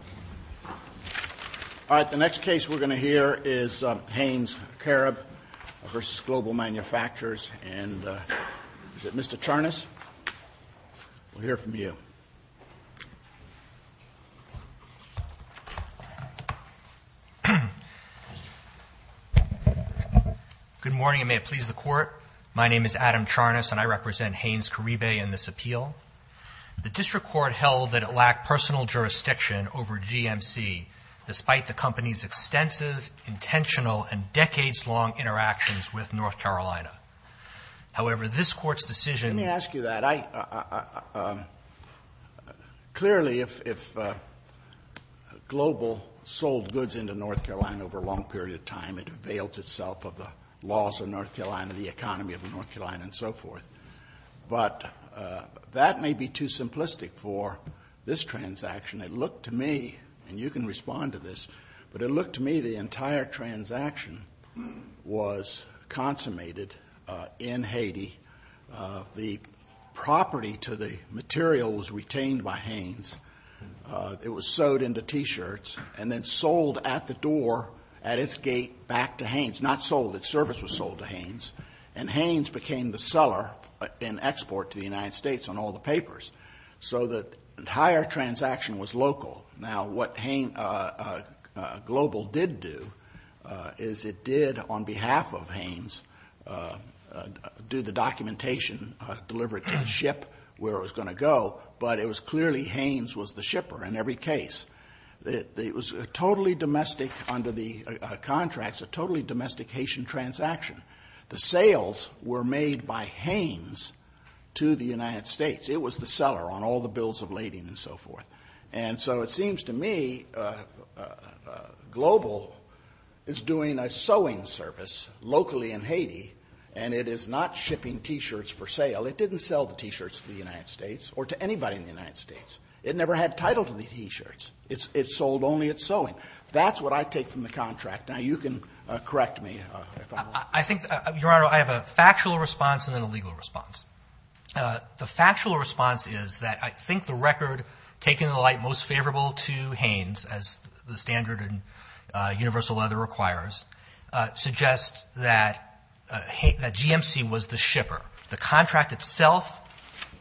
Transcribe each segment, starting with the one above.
All right, the next case we're going to hear is Hanes Caribe v. Global Manufacturers. And is it Mr. Charnas? We'll hear from you. Good morning, and may it please the Court. My name is Adam Charnas, and I represent Hanes Caribe in this appeal. The district court held that it lacked personal jurisdiction over GMC, despite the company's extensive, intentional, and decades-long interactions with North Carolina. However, this Court's decision Let me ask you that. Clearly, if Global sold goods into North Carolina over a long period of time, it availed itself of the laws of North Carolina, the economy of North Carolina, and so forth. But that may be too simplistic for this transaction. It looked to me, and you can respond to this, but it looked to me the entire transaction was consummated in Haiti. The property to the material was retained by Hanes. It was sewed into t-shirts and then sold at the door, at its gate, back to Hanes. And Hanes became the seller in export to the United States on all the papers. So the entire transaction was local. Now what Global did do is it did, on behalf of Hanes, do the documentation, deliver it to the ship where it was going to go, but it was clearly Hanes was the shipper in every case. It was totally domestic under the contracts, a totally domestic Haitian transaction. The sales were made by Hanes to the United States. It was the seller on all the bills of lading and so forth. And so it seems to me Global is doing a sewing service locally in Haiti and it is not shipping t-shirts for sale. It didn't sell the t-shirts to the United States or to anybody in the United States. It never had title to the t-shirts. It sold only its sewing. That's what I take from the contract. Now you can correct me if I'm wrong. Your Honor, I have a factual response and then a legal response. The factual response is that I think the record, taken in the light most favorable to Hanes, as the standard in universal leather requires, suggests that GMC was the shipper. The contract itself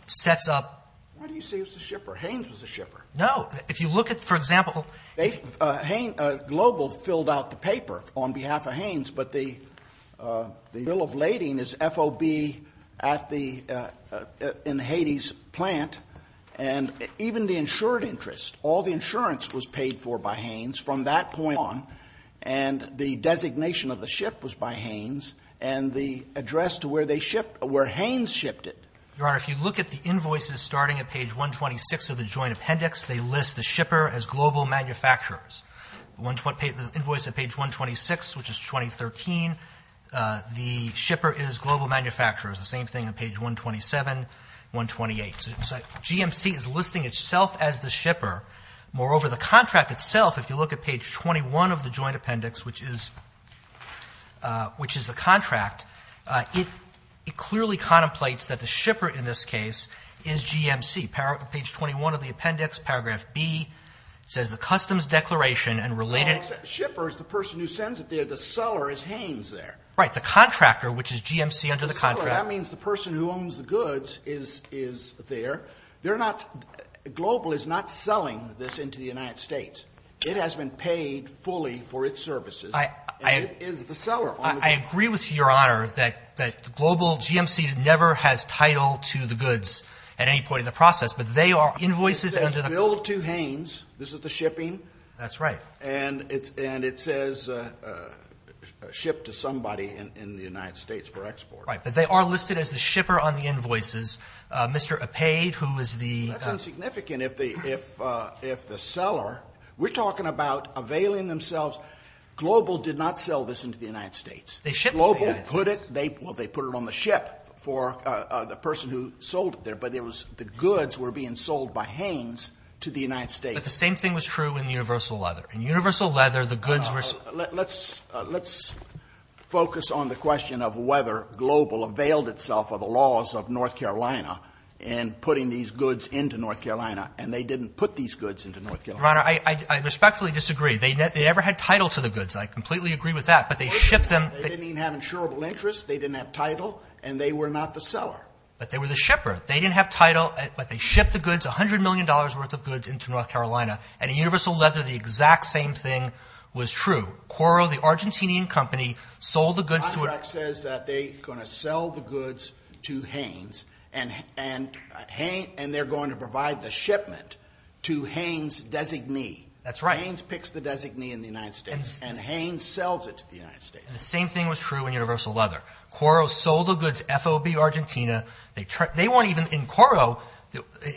sets up- What do you say was the shipper? Hanes was the shipper. No. If you look at, for example- Global filled out the paper on behalf of Hanes, but the bill of lading is FOB at the- in Haiti's plant and even the insured interest, all the insurance was paid for by Hanes from that point on and the designation of the ship was by Hanes and the address to where they shipped- where Hanes shipped it. Your Honor, if you look at the invoices starting at page 126 of the joint appendix, they list the shipper as global manufacturers. The invoice at page 126, which is 2013, the shipper is global manufacturers. The same thing at page 127, 128. So GMC is listing itself as the shipper. Moreover, the contract itself, if you look at page 21 of the joint appendix, which is the contract, it clearly contemplates that the shipper in this case is GMC. Page 21 of the appendix, paragraph B, says the customs declaration and related- Shipper is the person who sends it there. The seller is Hanes there. Right. The contractor, which is GMC under the contract- That means the person who owns the goods is there. They're not – Global is not selling this into the United States. It has been paid fully for its services and it is the seller. I agree with you, Your Honor, that Global, GMC never has title to the goods at any point in the process, but they are invoices under the contract. It says bill to Hanes. This is the shipping. That's right. And it says ship to somebody in the United States for export. Right. But they are listed as the shipper on the invoices. Mr. Opaid, who is the- That's insignificant if the seller – we're talking about availing themselves. Global did not sell this into the United States. They shipped it to the United States. Global put it – well, they put it on the ship for the person who sold it there, but it was – the goods were being sold by Hanes to the United States. But the same thing was true in Universal Leather. In Universal Leather, the goods were- Let's – let's focus on the question of whether Global availed itself of the laws of North Carolina in putting these goods into North Carolina, and they didn't put these goods into North Carolina. Your Honor, I respectfully disagree. They never had title to the goods. I completely agree with that, but they shipped them- They didn't even have insurable interest. They didn't have title and they were not the seller. But they were the shipper. They didn't have title, but they shipped the goods, $100 million worth of goods, into North Carolina. And in Universal Leather, the exact same thing was true. Quoro, the Argentinian company, sold the goods to- Contract says that they're going to sell the goods to Hanes and they're going to provide the shipment to Hanes' designee. That's right. Hanes picks the designee in the United States and Hanes sells it to the United States. The same thing was true in Universal Leather. Quoro sold the goods FOB Argentina. They weren't even in Quoro,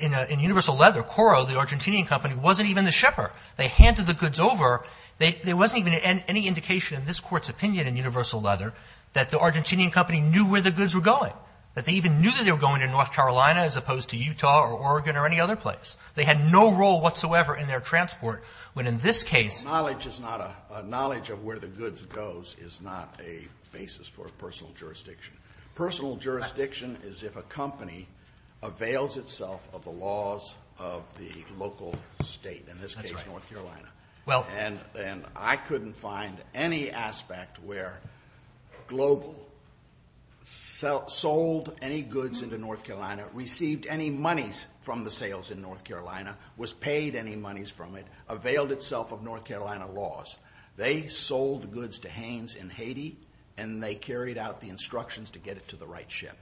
in Universal Leather, Quoro, the Argentinian company, wasn't even the shipper. They handed the goods over. There wasn't even any indication in this Court's opinion in Universal Leather that the Argentinian company knew where the goods were going, that they even knew that they were going to North Carolina as opposed to Utah or Oregon or any other place. They had no role whatsoever in their transport, when in this case- Knowledge is not a – knowledge of where the goods goes is not a basis for a personal jurisdiction. Personal jurisdiction is if a company avails itself of the laws of the local state, in this case North Carolina. And I couldn't find any aspect where Global sold any goods into North Carolina, received any monies from the sales in North Carolina, was paid any monies from it, availed itself of North Carolina laws. They sold the goods to Hanes in Haiti and they carried out the instructions to get it to the right ship.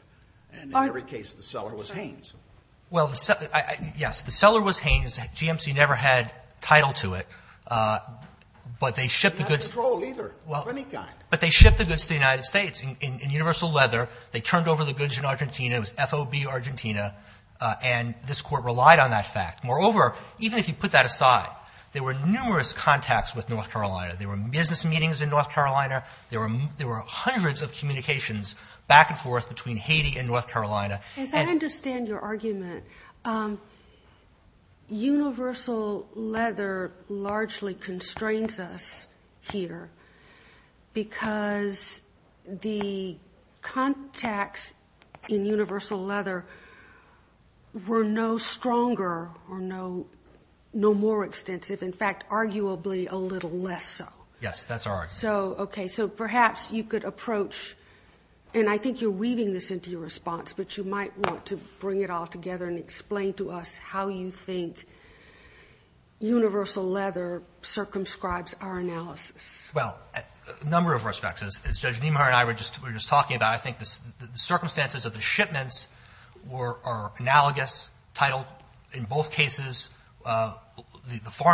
And in every case, the seller was Hanes. Well, yes, the seller was Hanes. GMC never had title to it, but they shipped the goods- They had no control either of any kind. But they shipped the goods to the United States in Universal Leather. They turned over the goods in Argentina. It was FOB Argentina and this Court relied on that fact. Moreover, even if you put that aside, there were numerous contacts with North Carolina. There were business meetings in North Carolina. There were hundreds of communications back and forth between Haiti and North Carolina. As I understand your argument, Universal Leather largely constrains us here because the contacts in Universal Leather were no stronger or no more extensive. In fact, arguably a little less so. Yes, that's our argument. So, okay, so perhaps you could approach, and I think you're weaving this into your response, but you might want to bring it all together and explain to us how you think Universal Leather circumscribes our analysis. Well, a number of respects. As Judge Niemeyer and I were just talking about, I think the circumstances of the North Carolina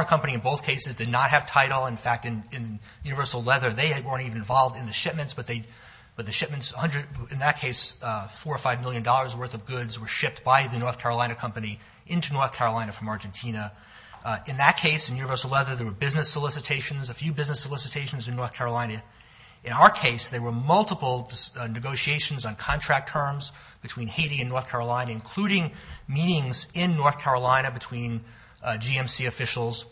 company in both cases did not have title. In fact, in Universal Leather, they weren't even involved in the shipments, but the shipments, in that case, $4 or $5 million worth of goods were shipped by the North Carolina company into North Carolina from Argentina. In that case, in Universal Leather, there were business solicitations, a few business solicitations in North Carolina. In our case, there were multiple negotiations on contract terms between Haiti and North Carolina, including meetings in North Carolina between GMC officials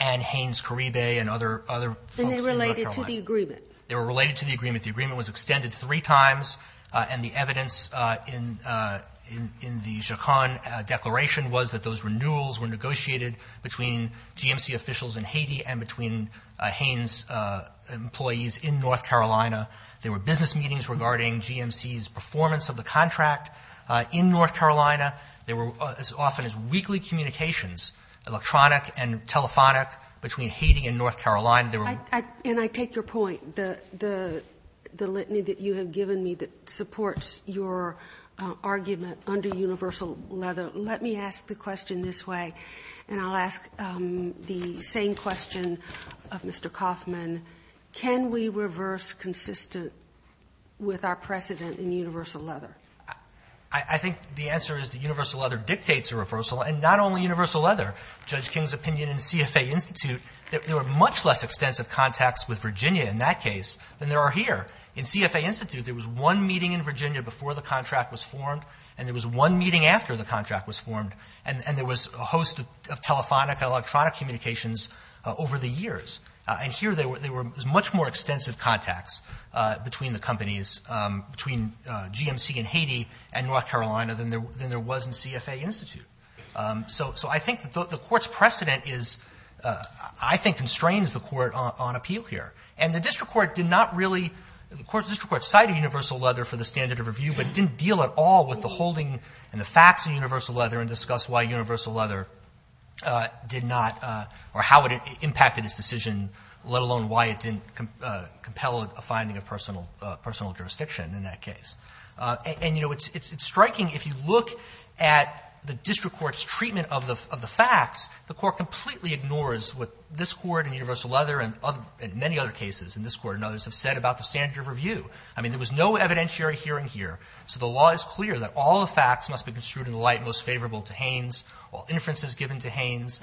and Hanes-Karibbe and other folks in North Carolina. And they related to the agreement. They were related to the agreement. The agreement was extended three times, and the evidence in the Jacon Declaration was that those renewals were negotiated between GMC officials in Haiti and between Hanes' employees in North Carolina. There were business meetings regarding GMC's performance of the contract in North Carolina. There were as often as weekly communications, electronic and telephonic, between Haiti and North Carolina. They were ---- And I take your point, the litany that you have given me that supports your argument under Universal Leather. Let me ask the question this way, and I'll ask the same question of Mr. Kauffman. Can we reverse consistent with our precedent in Universal Leather? I think the answer is that Universal Leather dictates a reversal, and not only Universal Leather. Judge King's opinion in CFA Institute, there were much less extensive contacts with Virginia in that case than there are here. In CFA Institute, there was one meeting in Virginia before the contract was formed, and there was one meeting after the contract was formed. And there was a host of telephonic, electronic communications over the years. And here, there were much more extensive contacts between the companies, between GMC in Haiti and North Carolina than there was in CFA Institute. So I think the Court's precedent is, I think, constrains the Court on appeal here. And the district court did not really ---- the district court cited Universal Leather for the standard of review, but didn't deal at all with the holding and the facts in Universal Leather and discuss why Universal Leather did not or how it impacted its decision, let alone why it didn't compel a finding of personal jurisdiction in that case. And it's striking, if you look at the district court's treatment of the facts, the court completely ignores what this court and Universal Leather and many other cases in this court and others have said about the standard of review. I mean, there was no evidentiary hearing here. So the law is clear that all the facts must be construed in the light most favorable to Haynes, all inferences given to Haynes,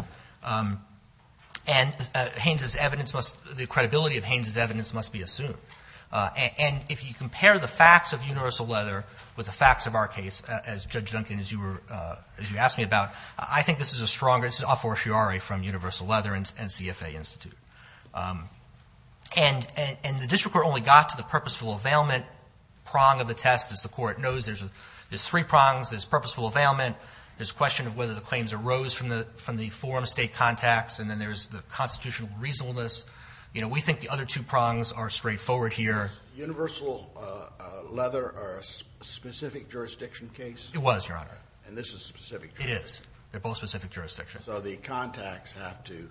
and Haynes's evidence must ---- the credibility of Haynes's evidence must be assumed. And if you compare the facts of Universal Leather with the facts of our case, as Judge Duncan, as you were ---- as you asked me about, I think this is a stronger ---- this is a fortiori from Universal Leather and CFA Institute. And the district court only got to the purposeful availment prong of the test. As the Court knows, there's three prongs. There's purposeful availment. There's a question of whether the claims arose from the forum state contacts. And then there's the constitutional reasonableness. You know, we think the other two prongs are straightforward here. Roberts. Universal Leather or a specific jurisdiction case? It was, Your Honor. And this is specific jurisdiction? It is. They're both specific jurisdictions. So the contacts have to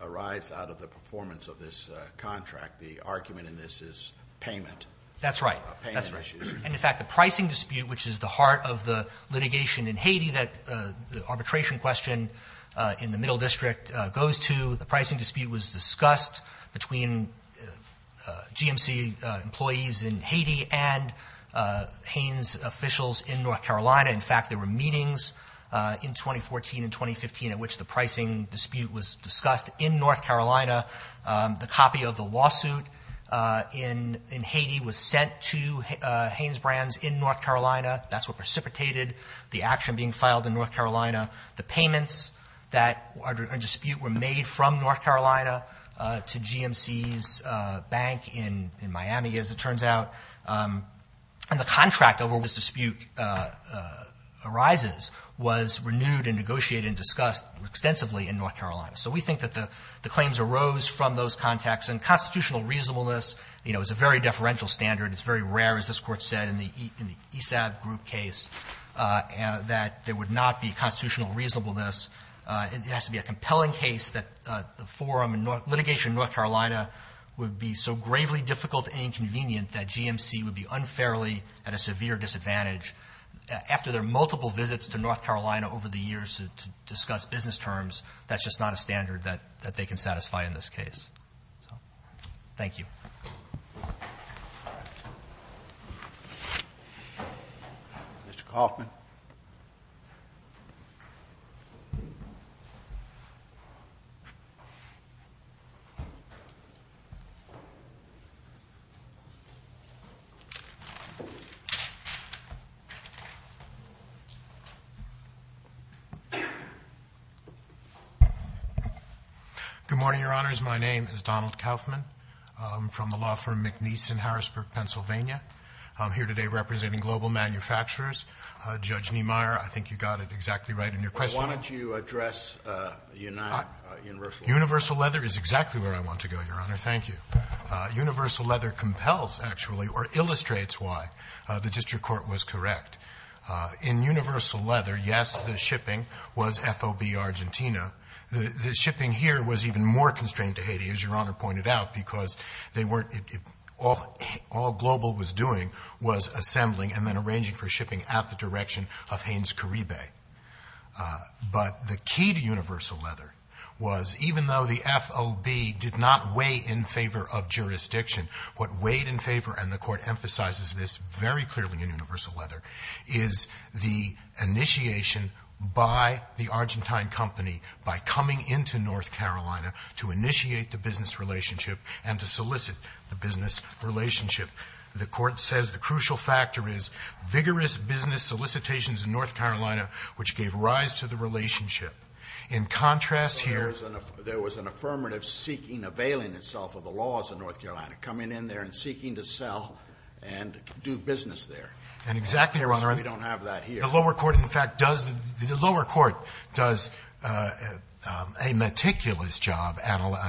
arise out of the performance of this contract. The argument in this is payment. That's right. That's right. And, in fact, the pricing dispute, which is the heart of the litigation in Haiti that the arbitration question in the Middle District goes to, the pricing dispute was discussed between GMC employees in Haiti and Haines officials in North Carolina. In fact, there were meetings in 2014 and 2015 at which the pricing dispute was discussed. In North Carolina, the copy of the lawsuit in Haiti was sent to Haines Brands in North Carolina. That's what precipitated the action being filed in North Carolina. The payments that dispute were made from North Carolina to GMC's bank in Miami, as it turns out. And the contract over which this dispute arises was renewed and negotiated and discussed extensively in North Carolina. So we think that the claims arose from those contacts. And constitutional reasonableness is a very deferential standard. It's very rare, as this Court said in the ESAB group case, that there would not be constitutional reasonableness. It has to be a compelling case that the forum and litigation in North Carolina would be so gravely difficult and inconvenient that GMC would be unfairly at a severe disadvantage. After their multiple visits to North Carolina over the years to discuss business terms, that's just not a standard that they can satisfy in this case. Thank you. Mr. Coffman. Good morning, Your Honors. My name is Donald Coffman. I'm from the law firm McNeese in Harrisburg, Pennsylvania. I'm here today representing Global Manufacturers. Judge Niemeyer, I think you got it exactly right in your question. Why don't you address Universal Leather? Universal Leather is exactly where I want to go, Your Honor. Thank you. Universal Leather compels, actually, or illustrates why the district court was correct. In Universal Leather, yes, the shipping was FOB Argentina. The shipping here was even more constrained to Haiti, as Your Honor pointed out, because they weren't all the global was doing was assembling and then arranging for shipping at the direction of Haines-Karibe. But the key to Universal Leather was, even though the FOB did not weigh in favor of jurisdiction, what weighed in favor, and the Court emphasizes this very clearly in Universal Leather, is the initiation by the Argentine company, by coming into North Carolina, to initiate the business relationship and to solicit the business relationship. The Court says the crucial factor is vigorous business solicitations in North Carolina, which gave rise to the relationship. In contrast here there was an affirmative seeking, availing itself of the laws of North And exactly, Your Honor, the lower court, in fact, does the lower court does a meticulous job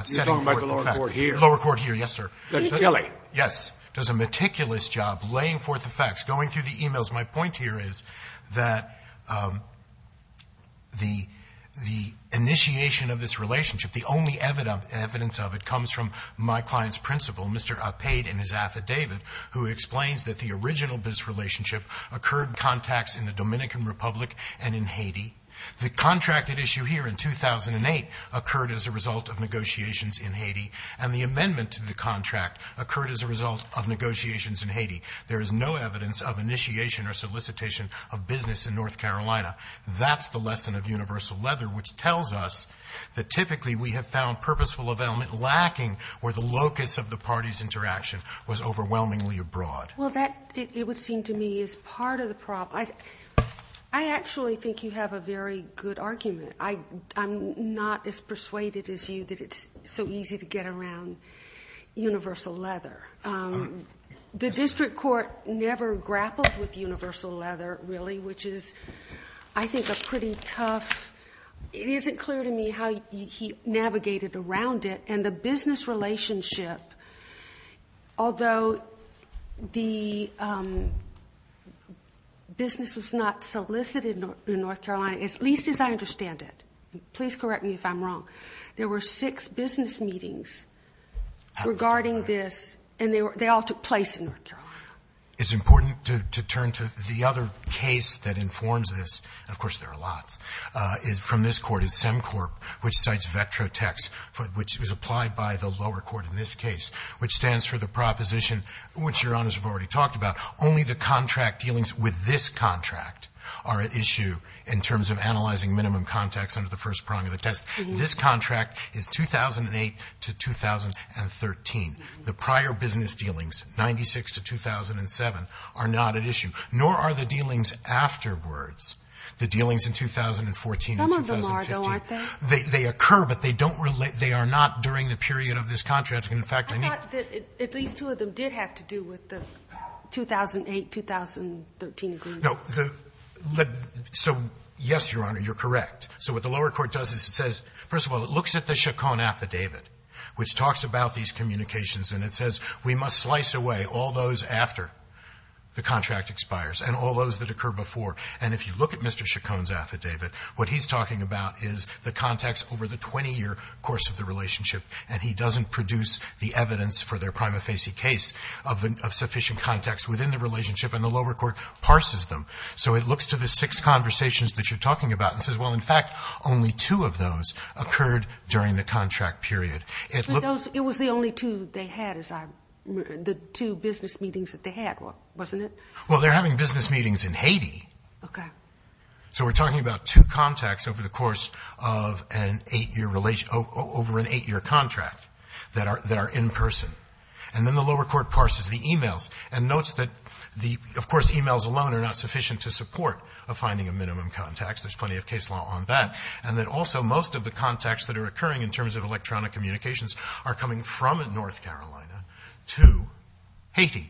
setting forth the facts. You're talking about the lower court here. The lower court here, yes, sir. In Chile. Yes. Does a meticulous job laying forth the facts, going through the e-mails. My point here is that the initiation of this relationship, the only evidence of it comes from my client's principal, Mr. Upade, in his affidavit, who explains that the original business relationship occurred in contacts in the Dominican Republic and in Haiti. The contracted issue here in 2008 occurred as a result of negotiations in Haiti, and the amendment to the contract occurred as a result of negotiations in Haiti. There is no evidence of initiation or solicitation of business in North Carolina. That's the lesson of Universal Leather, which tells us that typically we have found purposeful availment lacking where the locus of the party's interaction was overwhelmingly abroad. Well, that, it would seem to me, is part of the problem. I actually think you have a very good argument. I'm not as persuaded as you that it's so easy to get around Universal Leather. The district court never grappled with Universal Leather, really, which is, I think, a pretty tough, it isn't clear to me how he navigated around it, and the business relationship, although the business was not solicited in North Carolina, as least as I understand it. Please correct me if I'm wrong. There were six business meetings regarding this, and they all took place in North Carolina. It's important to turn to the other case that informs this, and of course there are lots, is from this Court, is SEMCORP, which cites VETROTEX, which was applied by the lower court in this case, which stands for the proposition, which Your Honors have already talked about, only the contract dealings with this contract are at issue in terms of analyzing minimum contacts under the first prong of the test. This contract is 2008 to 2013. The prior business dealings, 96 to 2007, are not at issue, nor are the dealings afterwards, the dealings in 2014 and 2015. Some of them are, though, aren't they? They occur, but they don't relate, they are not during the period of this contract. And in fact, I need to go back to that. I thought that at least two of them did have to do with the 2008-2013 agreement. No. So, yes, Your Honor, you're correct. So what the lower court does is it says, first of all, it looks at the Chacon affidavit, which talks about these communications, and it says we must slice away all those after the contract expires, and all those that occur before. And if you look at Mr. Chacon's affidavit, what he's talking about is the contacts over the 20-year course of the relationship, and he doesn't produce the evidence for their prima facie case of sufficient contacts within the relationship, and the lower court parses them. So it looks to the six conversations that you're talking about and says, well, in fact, only two of those occurred during the contract period. It looks to the six conversations that you're talking about and says, well, in fact, It was the only two they had as our the two business meetings that they had, wasn't it? Well, they're having business meetings in Haiti. Okay. So we're talking about two contacts over the course of an 8-year relationship over an 8-year contract that are in person. And then the lower court parses the e-mails and notes that the, of course, e-mails alone are not sufficient to support a finding of minimum contacts. There's plenty of case law on that. from North Carolina to Haiti.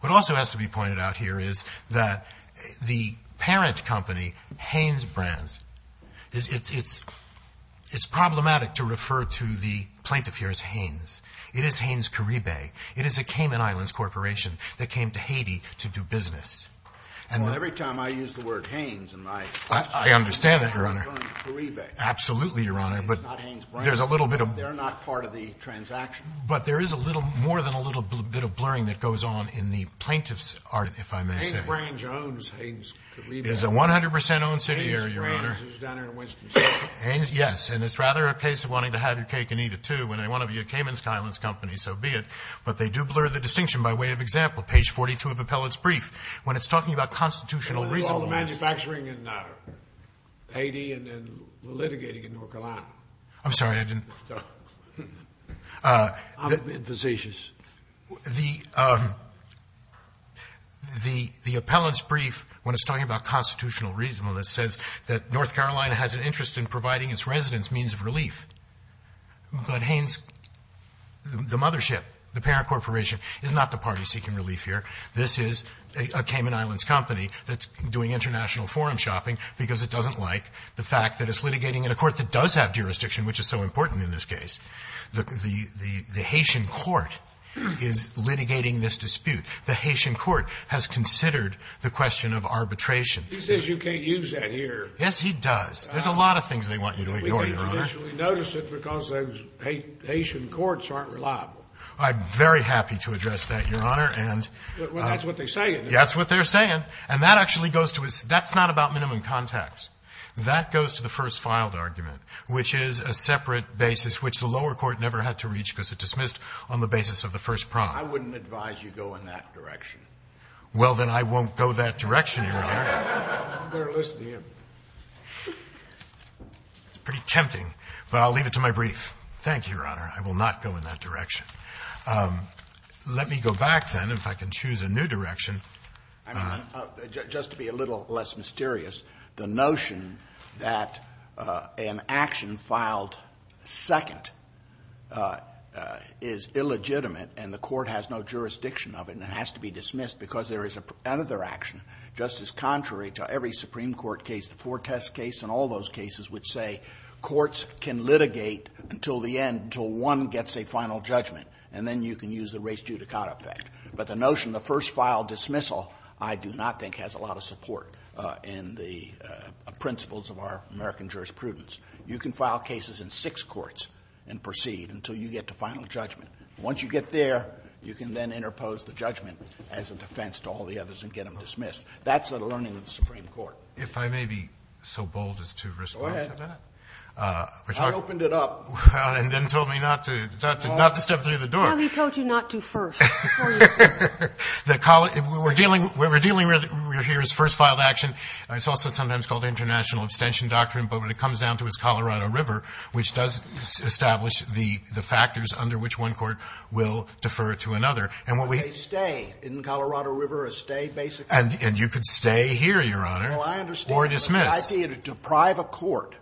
What also has to be pointed out here is that the parent company, Hanes Brands, it's problematic to refer to the plaintiff here as Hanes. It is Hanes Caribe. It is a Cayman Islands corporation that came to Haiti to do business. And the ---- Well, every time I use the word Hanes in my ---- I understand that, Your Honor. ---- Caribe. Absolutely, Your Honor. But there's a little bit of ---- Part of the transaction. But there is a little more than a little bit of blurring that goes on in the plaintiff's art, if I may say. Hanes Brands owns Hanes Caribe. It is a 100% owned city area, Your Honor. Hanes Brands is down in Winston City. Yes. And it's rather a case of wanting to have your cake and eat it, too, when they want to be a Cayman Islands company. So be it. But they do blur the distinction by way of example. Page 42 of Appellate's brief, when it's talking about constitutional reasonableness. It was all the manufacturing in Haiti and then the litigating in North Carolina. I'm sorry. I didn't ---- I'm impetuous. The Appellate's brief, when it's talking about constitutional reasonableness, says that North Carolina has an interest in providing its residents means of relief. But Hanes, the mothership, the parent corporation, is not the party seeking relief here. This is a Cayman Islands company that's doing international forum shopping because it doesn't like the fact that it's litigating in a court that does have jurisdiction, which is so important in this case. The Haitian court is litigating this dispute. The Haitian court has considered the question of arbitration. He says you can't use that here. Yes, he does. There's a lot of things they want you to ignore, Your Honor. We couldn't traditionally notice it because those Haitian courts aren't reliable. I'm very happy to address that, Your Honor. And ---- Well, that's what they're saying. That's what they're saying. And that actually goes to a ---- that's not about minimum contacts. That goes to the first filed argument, which is a separate basis which the lower court never had to reach because it dismissed on the basis of the first prompt. I wouldn't advise you go in that direction. Well, then I won't go that direction, Your Honor. I'm better listening in. It's pretty tempting, but I'll leave it to my brief. Thank you, Your Honor. I will not go in that direction. Let me go back, then, if I can choose a new direction. I mean, just to be a little less mysterious, the notion that an action filed second is illegitimate and the court has no jurisdiction of it and it has to be dismissed because there is another action just as contrary to every Supreme Court case, the Fortes case and all those cases which say courts can litigate until the end, until one gets a final judgment, and then you can use the res judicata effect. But the notion, the first filed dismissal, I do not think has a lot of support in the principles of our American jurisprudence. You can file cases in six courts and proceed until you get to final judgment. Once you get there, you can then interpose the judgment as a defense to all the others and get them dismissed. That's the learning of the Supreme Court. If I may be so bold as to respond to that. Go ahead. I opened it up. And then told me not to step through the door. I only told you not to first. We're dealing here with the first filed action. It's also sometimes called international abstention doctrine, but when it comes down to its Colorado River, which does establish the factors under which one court will defer to another. And when we stay in Colorado River, a stay basically means a dismissal. And you could stay here, Your Honor, or dismiss. I understand, but I see it to deprive a court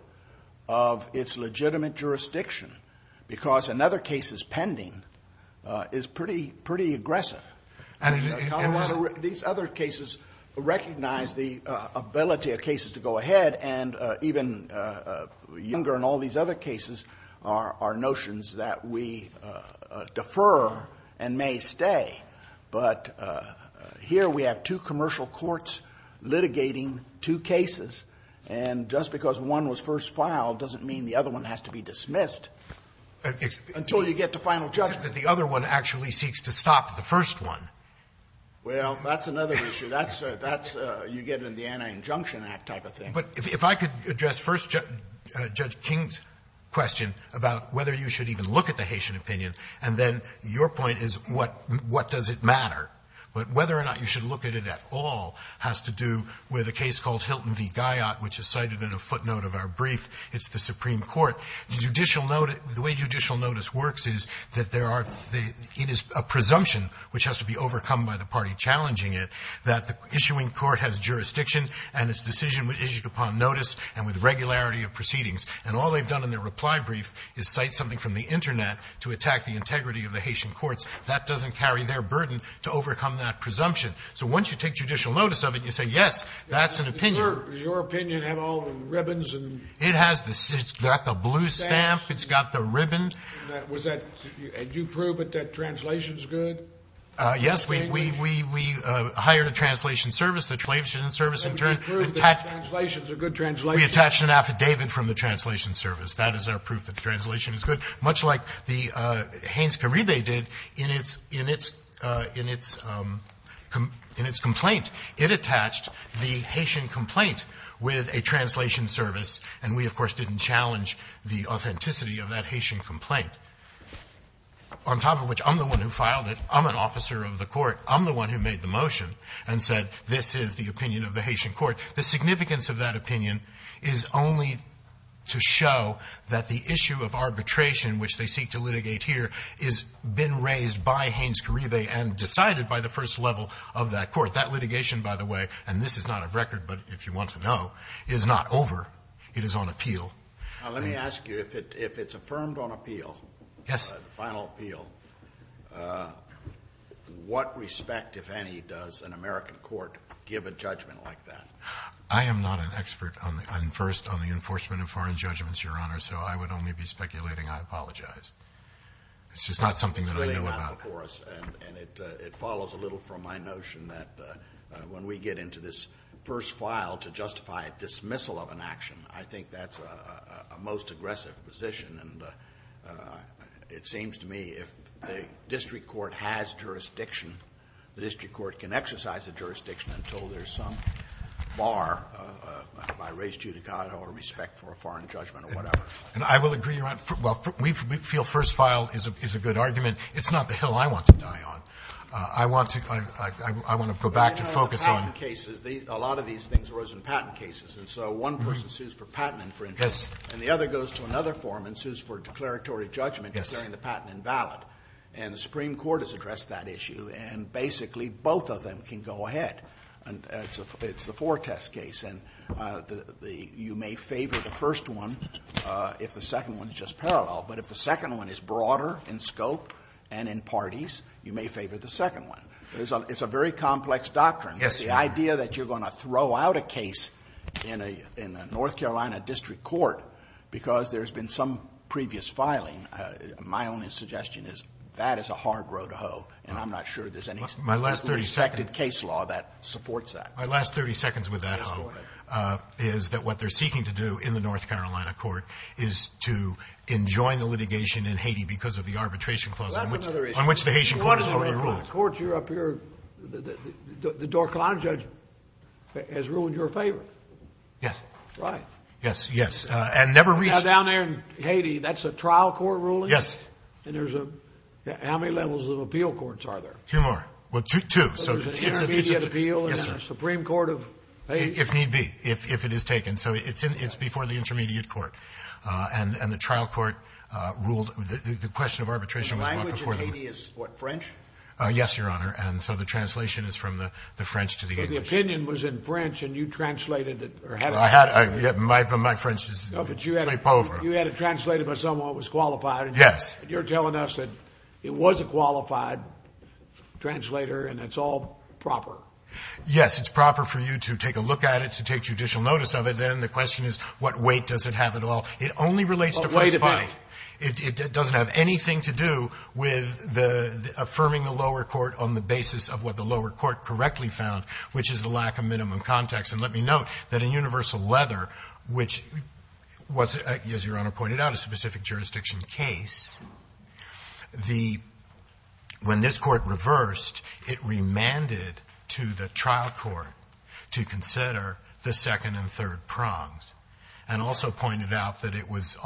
of its legitimate jurisdiction because in other cases pending, it's pretty aggressive. And in Colorado River, these other cases recognize the ability of cases to go ahead and even younger in all these other cases are notions that we defer and may stay. But here we have two commercial courts litigating two cases. And just because one was first filed doesn't mean the other one has to be dismissed. Until you get to final judgment. The other one actually seeks to stop the first one. Well, that's another issue. That's a you get in the Anti-Injunction Act type of thing. But if I could address first Judge King's question about whether you should even look at the Haitian opinion, and then your point is what does it matter. But whether or not you should look at it at all has to do with a case called Hilton v. Gaiot, which is cited in a footnote of our brief. It's the Supreme Court. The way judicial notice works is that it is a presumption, which has to be overcome by the party challenging it, that the issuing court has jurisdiction and its decision is issued upon notice and with regularity of proceedings. And all they've done in their reply brief is cite something from the Internet to attack the integrity of the Haitian courts. That doesn't carry their burden to overcome that presumption. So once you take judicial notice of it, you say yes, that's an opinion. Does your opinion have all the ribbons? It has the, it's got the blue stamp, it's got the ribbon. Was that, did you prove that that translation's good? Yes, we hired a translation service, the translation service in turn. And you proved that the translation's a good translation? We attached an affidavit from the translation service. That is our proof that the translation is good. Much like the Haines-Karide did in its complaint. It attached the Haitian complaint with a translation service, and we, of course, didn't challenge the authenticity of that Haitian complaint. On top of which, I'm the one who filed it. I'm an officer of the court. I'm the one who made the motion and said this is the opinion of the Haitian court. The significance of that opinion is only to show that the issue of arbitration, which they seek to litigate here, has been raised by Haines-Karide and decided by the first level of that court. That litigation, by the way, and this is not a record, but if you want to know, is not over. It is on appeal. Now, let me ask you, if it's affirmed on appeal, the final appeal, what respect, if any, does an American court give a judgment like that? I am not an expert on, first, on the enforcement of foreign judgments, Your Honor, so I would only be speculating I apologize. It's just not something that I know about. And it follows a little from my notion that when we get into this first file to justify a dismissal of an action, I think that's a most aggressive position. And it seems to me if the district court has jurisdiction, the district court can exercise a jurisdiction until there's some bar by race, judicata, or respect for a foreign judgment or whatever. And I will agree, Your Honor, well, we feel first file is a good argument. It's not the hill I want to die on. I want to go back to focus on the patent cases. A lot of these things arose in patent cases. And so one person sues for patent infringement. And the other goes to another forum and sues for declaratory judgment declaring the patent invalid. And the Supreme Court has addressed that issue. And basically, both of them can go ahead. And it's the four test case. And you may favor the first one if the second one is just parallel. But if the second one is broader in scope and in parties, you may favor the second one. It's a very complex doctrine. The idea that you're going to throw out a case in a North Carolina district court because there's been some previous filing, my only suggestion is that is a hard road to hoe. And I'm not sure there's any respective case law that supports that. My last 30 seconds with that hoe is that what they're seeking to do in the North Carolina litigation in Haiti because of the arbitration clause on which the Haitian court is overruled. The court you're up here, the North Carolina judge has ruined your favor. Yes. Right. Yes. Yes. And never reached. Down there in Haiti, that's a trial court ruling. Yes. And there's a how many levels of appeal courts are there? Two more. Well, two. So there's an intermediate appeal in the Supreme Court of Haiti. If need be, if it is taken. So it's before the intermediate court. And the trial court ruled the question of arbitration. The language in Haiti is what? French? Yes, your honor. And so the translation is from the French to the English. The opinion was in French and you translated it or had. I had my my French is. No, but you had to translate it by someone who was qualified. Yes. You're telling us that it was a qualified translator and it's all proper. Yes, it's proper for you to take a look at it, to take judicial notice of it. And the question is, what weight does it have at all? It only relates to first five. It doesn't have anything to do with the affirming the lower court on the basis of what the lower court correctly found, which is the lack of minimum context. And let me note that a universal leather, which was, as your honor pointed out, a specific jurisdiction case, the when this court reversed, it remanded to the trial court to consider the second and third prongs and also pointed out that it was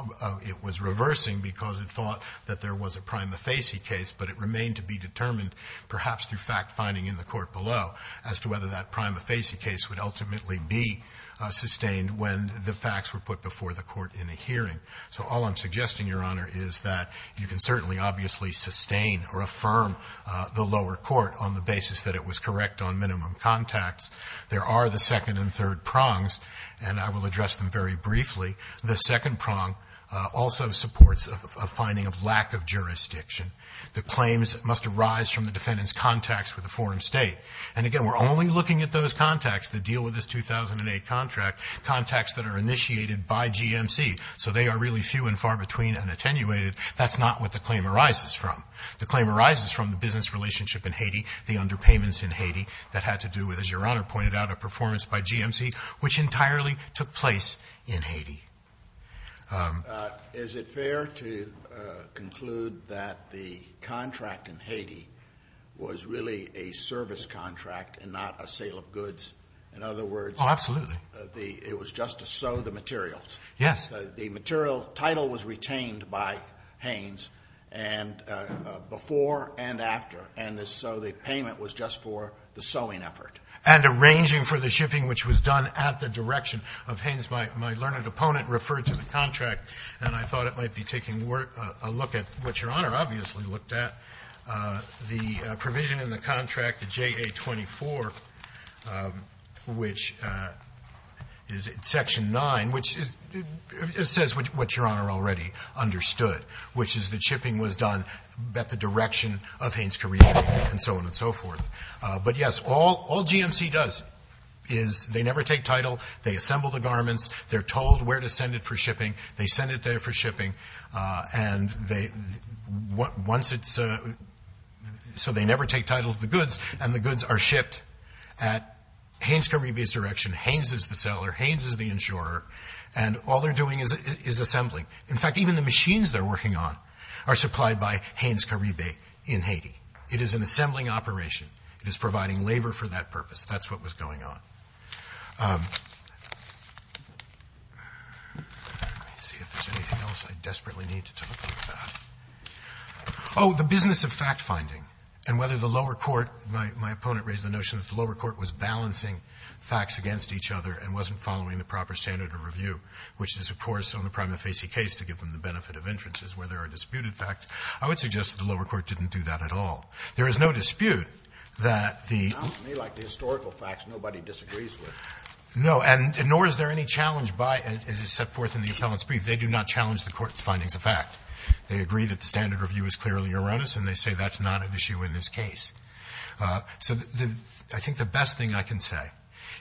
it was reversing because it thought that there was a prima facie case, but it remained to be determined perhaps through fact finding in the court below as to whether that prima facie case would ultimately be sustained when the facts were put before the court in a hearing. So all I'm suggesting, your honor, is that you can certainly obviously sustain or affirm the lower court on the basis that it was correct on minimum contacts. There are the second and third prongs, and I will address them very briefly. The second prong also supports a finding of lack of jurisdiction. The claims must arise from the defendant's contacts with the foreign state. And again, we're only looking at those contacts that deal with this 2008 contract, contacts that are initiated by GMC. So they are really few and far between and attenuated. That's not what the claim arises from. The claim arises from the business relationship in Haiti, the underpayments in Haiti that had to do with, as your honor pointed out, a performance by GMC, which entirely took place in Haiti. Is it fair to conclude that the contract in Haiti was really a service contract and not a sale of goods? In other words, it was just to sew the materials. Yes. The material title was retained by Hanes before and after. And so the payment was just for the sewing effort. And arranging for the shipping, which was done at the direction of Hanes, my learned opponent referred to the contract, and I thought it might be taking a look at what your honor obviously looked at. The provision in the contract, the JA-24, which is in section 9, which says what your honor already understood, which is the shipping was done at the direction of Hanes-Karibe and so on and so forth. But, yes, all GMC does is they never take title. They assemble the garments. They're told where to send it for shipping. They send it there for shipping. And once it's so they never take title to the goods, and the goods are shipped at Hanes-Karibe's direction. Hanes is the seller. Hanes is the insurer. And all they're doing is assembling. In fact, even the machines they're working on are supplied by Hanes-Karibe in Haiti. It is an assembling operation. It is providing labor for that purpose. That's what was going on. Let me see if there's anything else I desperately need to talk to you about. Oh, the business of fact-finding and whether the lower court, my opponent raised the notion that the lower court was balancing facts against each other and wasn't following the proper standard of review, which is, of course, on the prima facie case to give them the benefit of inferences where there are disputed facts. I would suggest that the lower court didn't do that at all. There is no dispute that the Not to me like the historical facts nobody disagrees with. No, and nor is there any challenge by as is set forth in the appellant's brief. They do not challenge the court's findings of fact. They agree that the standard review is clearly erroneous, and they say that's not an issue in this case. So I think the best thing I can say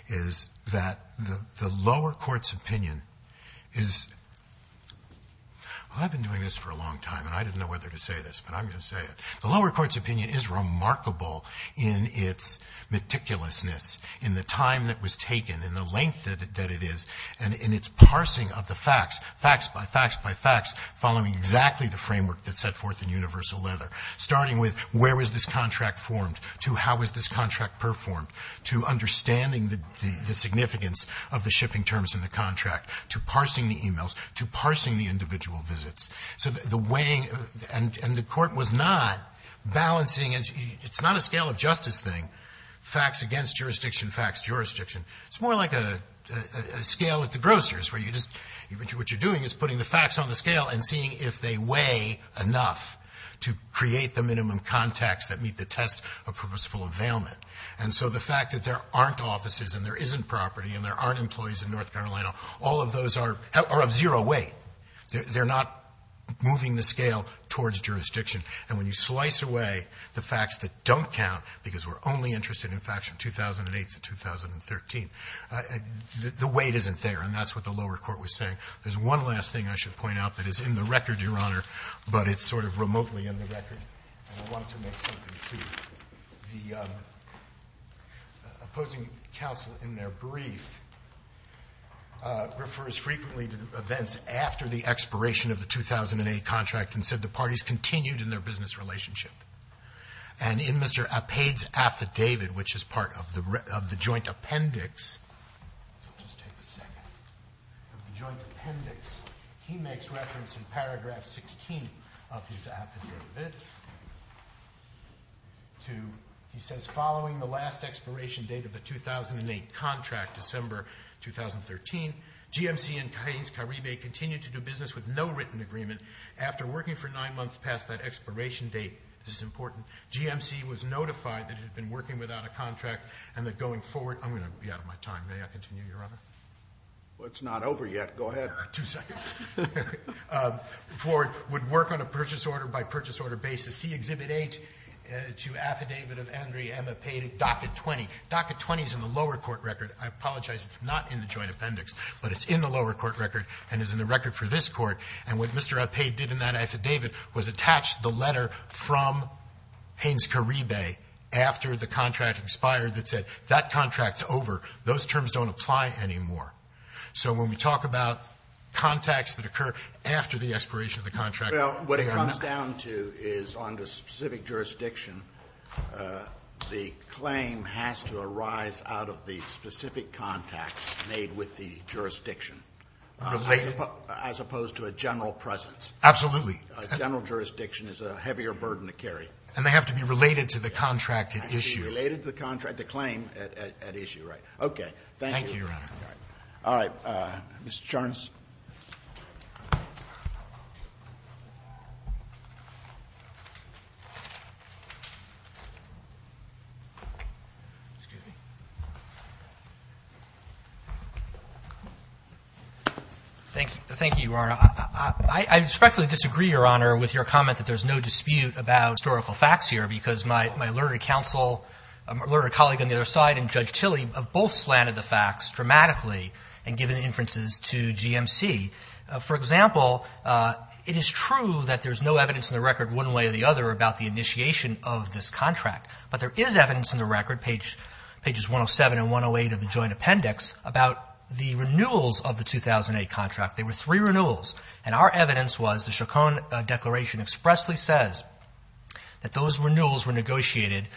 is that the lower court's opinion is well, I've been doing this for a long time, and I didn't know whether to say this, but I'm going to say it. The lower court's opinion is remarkable in its meticulousness, in the time that was taken, in the length that it is, and in its parsing of the facts, facts by facts by facts, following exactly the framework that's set forth in Universal Leather, starting with where was this contract formed, to how was this contract performed, to understanding the significance of the shipping terms in the contract, to parsing the e-mails, to parsing the individual visits. So the weighing, and the court was not balancing, it's not a scale of justice thing, facts against jurisdiction, facts jurisdiction. It's more like a scale at the grocer's, where you just, what you're doing is putting the facts on the scale and seeing if they weigh enough to create the minimum context that meet the test of purposeful availment. And so the fact that there aren't offices and there isn't property and there aren't employees in North Carolina, all of those are of zero weight. They're not moving the scale towards jurisdiction. And when you slice away the facts that don't count, because we're only interested in facts from 2008 to 2013, the weight isn't there, and that's what the lower court was saying. There's one last thing I should point out that is in the record, Your Honor, but it's sort of remotely in the record, and I wanted to make something clear. The opposing counsel in their brief refers frequently to events after the expiration of the 2008 contract, and said the parties continued in their business relationship. And in Mr. Appad's affidavit, which is part of the joint appendix, so just take a second, of the joint appendix, he makes reference in paragraph 16 of his affidavit to, he says, following the last expiration date of the 2008 contract, December 2013, GMC and Cain's Caribe continued to do business with no written agreement. After working for nine months past that expiration date, this is important, GMC was notified that it had been working without a contract and that going forward, I'm going to be out of my time. May I continue, Your Honor? Scalia. Well, it's not over yet. Go ahead. Verrilli, two seconds. Ford would work on a purchase order by purchase order basis, see Exhibit 8, to affidavit of Andrea M. Appad at docket 20. Docket 20 is in the lower court record. I apologize, it's not in the joint appendix, but it's in the lower court record and is in the record for this Court. And what Mr. Appad did in that affidavit was attach the letter from Cain's Caribe after the contract expired that said, that contract's over. Those terms don't apply anymore. So when we talk about contacts that occur after the expiration of the contract or not. Well, what it comes down to is on the specific jurisdiction, the claim has to arise out of the specific contacts made with the jurisdiction as opposed to a general Absolutely. A general jurisdiction is a heavier burden to carry. And they have to be related to the contract at issue. Related to the contract, the claim at issue, right. Thank you, Your Honor. All right. Mr. Charnas. Thank you, Your Honor. I respectfully disagree, Your Honor, with your comment that there's no dispute about historical facts here because my learned counsel, my learned colleague on the other side and Judge Tilly have both slanted the facts dramatically and given the inferences to GMC. For example, it is true that there's no evidence in the record one way or the other about the initiation of this contract. But there is evidence in the record, pages 107 and 108 of the joint appendix, about the renewals of the 2008 contract. There were three renewals. And our evidence was the Chaconne Declaration expressly says that those renewals were negotiated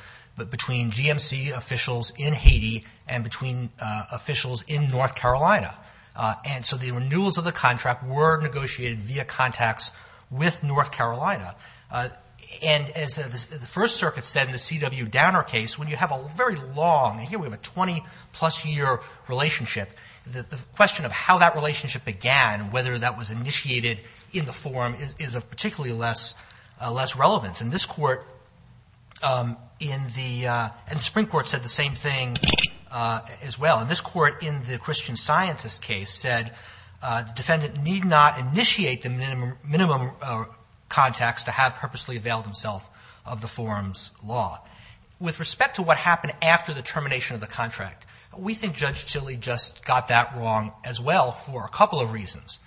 between GMC officials in Haiti and between officials in North Carolina. And so the renewals of the contract were negotiated via contacts with North Carolina. And as the First Circuit said in the C.W. Downer case, when you have a very long, and here we have a 20-plus year relationship, the question of how that relationship began, whether that was initiated in the forum is of particularly less relevance. And this Court in the, and the Supreme Court said the same thing as well. And this Court in the Christian Scientist case said the defendant need not initiate the minimum contacts to have purposely availed himself of the forum's law. With respect to what happened after the termination of the contract, we think Judge Tilly just got that wrong as well for a couple of reasons.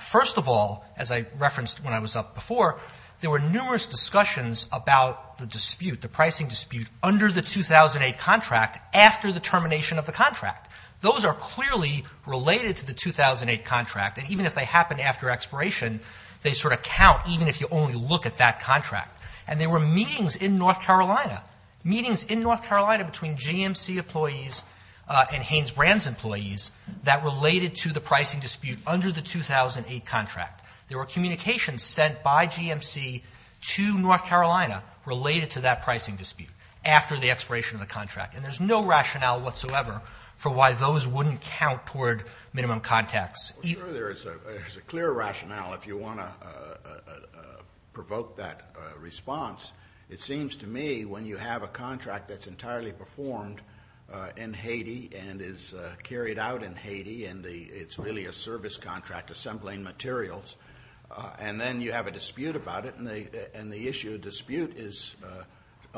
First of all, as I referenced when I was up before, there were numerous discussions about the dispute, the pricing dispute, under the 2008 contract after the termination of the contract. Those are clearly related to the 2008 contract. And even if they happen after expiration, they sort of count even if you only look at that contract. And there were meetings in North Carolina, meetings in North Carolina between GMC employees and Hanes Brand's employees that related to the pricing dispute under the 2008 contract. There were communications sent by GMC to North Carolina related to that pricing dispute after the expiration of the contract. And there's no rationale whatsoever for why those wouldn't count toward minimum contacts. There is a clear rationale if you want to provoke that response. It seems to me when you have a contract that's entirely performed in Haiti and is carried out in Haiti and it's really a service contract assembling materials, and then you have a dispute about it and the issue of dispute is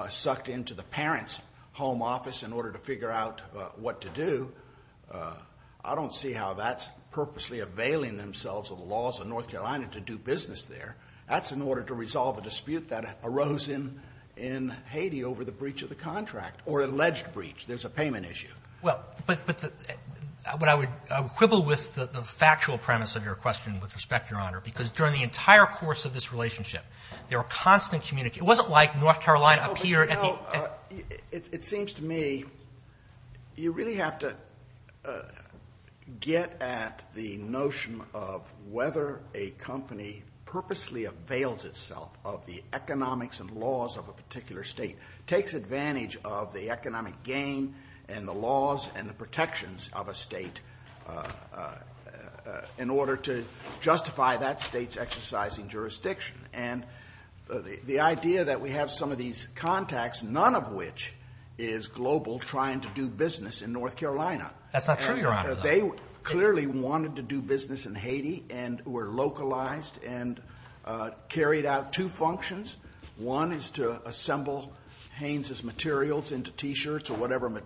sucked into the parent's home office in order to figure out what to do. I don't see how that's purposely availing themselves of the laws of North Carolina to do business there. That's in order to resolve a dispute that arose in Haiti over the breach of the contract or alleged breach. There's a payment issue. Well, but I would quibble with the factual premise of your question with respect, Your Honor, because during the entire course of this relationship, there were constant communication. It wasn't like North Carolina appeared at the end. It seems to me you really have to get at the notion of whether a company purposely avails itself of the economics and laws of a particular state, takes advantage of the economic gain and the laws and the protections of a state in order to justify that state's exercising jurisdiction. And the idea that we have some of these contacts, none of which is global trying to do business in North Carolina. That's not true, Your Honor. They clearly wanted to do business in Haiti and were localized and carried out two functions. One is to assemble Haynes' materials into t-shirts or whatever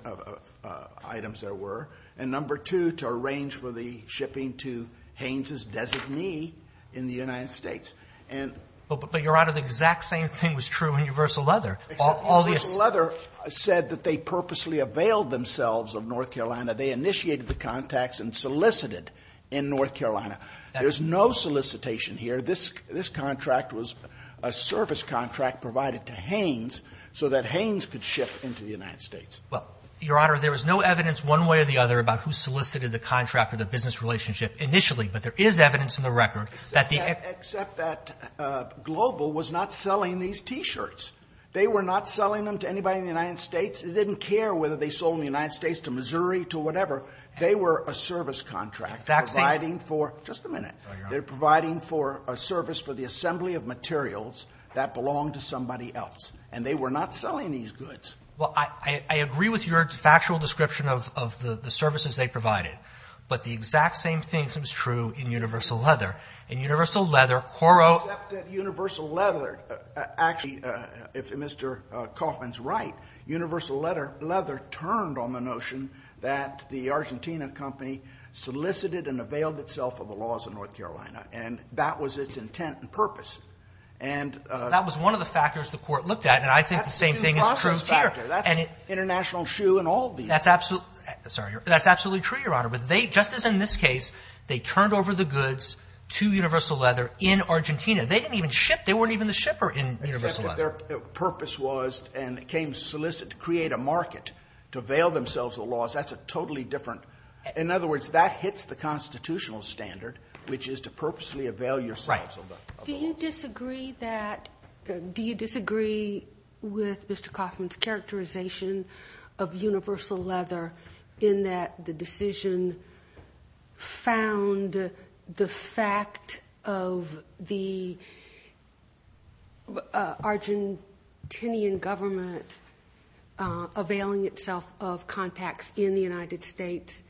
items there were. And number two, to arrange for the shipping to Haynes' designee in the United States. And... Well, but Your Honor, the exact same thing was true in Universal Leather. Except Universal Leather said that they purposely availed themselves of North Carolina. They initiated the contacts and solicited in North Carolina. There's no solicitation here. This contract was a service contract provided to Haynes so that Haynes could ship into the United States. Well, Your Honor, there was no evidence one way or the other about who solicited the contract or the business relationship initially. But there is evidence in the record that the... Except that Global was not selling these t-shirts. They were not selling them to anybody in the United States. It didn't care whether they sold in the United States to Missouri to whatever. They were a service contract providing for... Just a minute. They're providing for a service for the assembly of materials that belonged to somebody else. And they were not selling these goods. Well, I agree with your factual description of the services they provided. But the exact same thing seems true in Universal Leather. In Universal Leather, Quoro... Except that Universal Leather actually, if Mr. Kaufman's right, Universal Leather turned on the notion that the Argentina company solicited and availed itself of the laws of North Carolina. And that was its intent and purpose. And... That was one of the factors the court looked at. And I think the same thing is true here. That's an international shoe in all of these. That's absolutely, sorry, that's absolutely true, Your Honor. But they, just as in this case, they turned over the goods to Universal Leather in Argentina. They didn't even ship, they weren't even the shipper in Universal Leather. But their purpose was and came solicit to create a market to avail themselves of the laws. That's a totally different... In other words, that hits the constitutional standard, which is to purposely avail yourself of the laws. Do you disagree that... Do you disagree with Mr. Kaufman's characterization of Universal Leather in that the decision found the fact of the... Argentinian government availing itself of contacts in the United States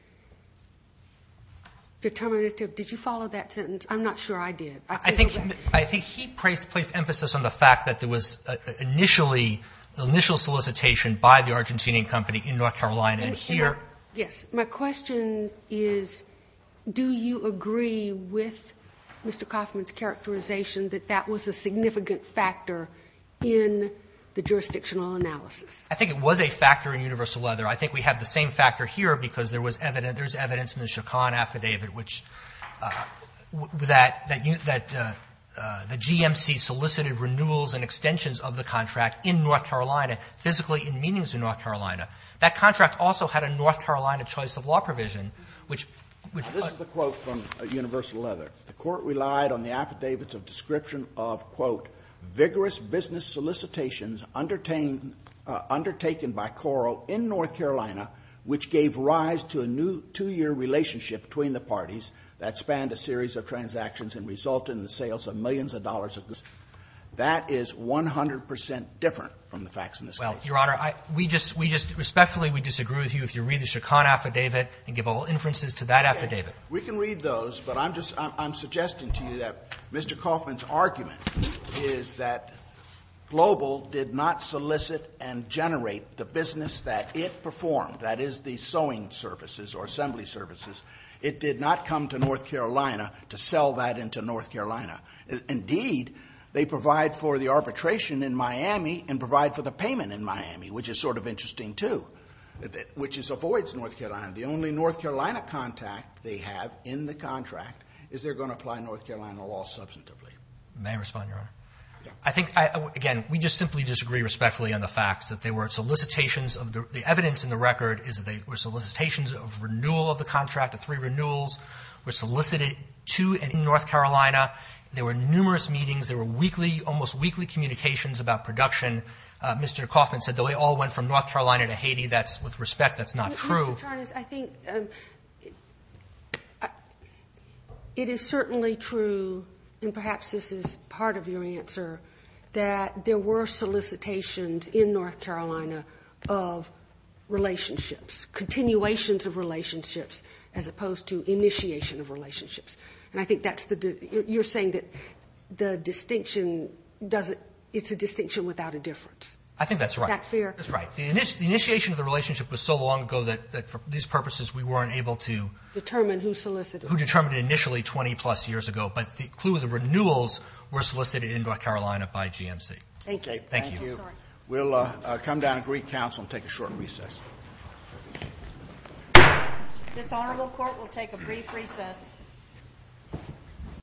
determinative? Did you follow that sentence? I'm not sure I did. I think he placed emphasis on the fact that there was initially, the initial solicitation by the Argentinian company in North Carolina. And here... Yes. My question is, do you agree with Mr. Kaufman's characterization that that was a significant factor in the jurisdictional analysis? I think it was a factor in Universal Leather. I think we have the same factor here because there was evidence, there's evidence in the Chacon Affidavit, which that the GMC solicited renewals and extensions of the contract in North Carolina, physically in meetings in North Carolina. That contract also had a North Carolina choice of law provision, which... This is the quote from Universal Leather. The court relied on the affidavits of description of, quote, vigorous business solicitations undertaken by Coro in North Carolina, which gave rise to a new two-year relationship between the parties that spanned a series of transactions and resulted in the sales of millions of dollars. That is 100 percent different from the facts in this case. Well, Your Honor, we just respectfully disagree with you if you read the Chacon Affidavit and give all inferences to that affidavit. We can read those, but I'm suggesting to you that Mr. Kaufman's argument is that Global did not solicit and generate the business that it performed, that is the sewing services or assembly services. It did not come to North Carolina to sell that into North Carolina. Indeed, they provide for the arbitration in Miami and provide for the payment in Miami, which is sort of interesting too, which avoids North Carolina. The only North Carolina contact they have in the contract is they're going to apply North Carolina law substantively. May I respond, Your Honor? Yeah. I think, again, we just simply disagree respectfully on the facts that they were solicitations of the evidence in the record is that they were solicitations of renewal of the contract, the three renewals were solicited to North Carolina. There were numerous meetings. There were weekly, almost weekly communications about production. Mr. Kaufman said that they all went from North Carolina to Haiti. That's, with respect, that's not true. Mr. Tarnas, I think it is certainly true, and perhaps this is part of your answer, that there were solicitations in North Carolina of relationships, continuations of relationships, as opposed to initiation of relationships. And I think that's the, you're saying that the distinction doesn't, it's a distinction without a difference. I think that's right. Is that fair? That's right. The initiation of the relationship was so long ago that, for these purposes, we weren't able to determine who solicited. Who determined it initially 20-plus years ago. But the clue is the renewals were solicited in North Carolina by GMC. Thank you. Thank you. We'll come down and greet counsel and take a short recess. This honorable court will take a brief recess.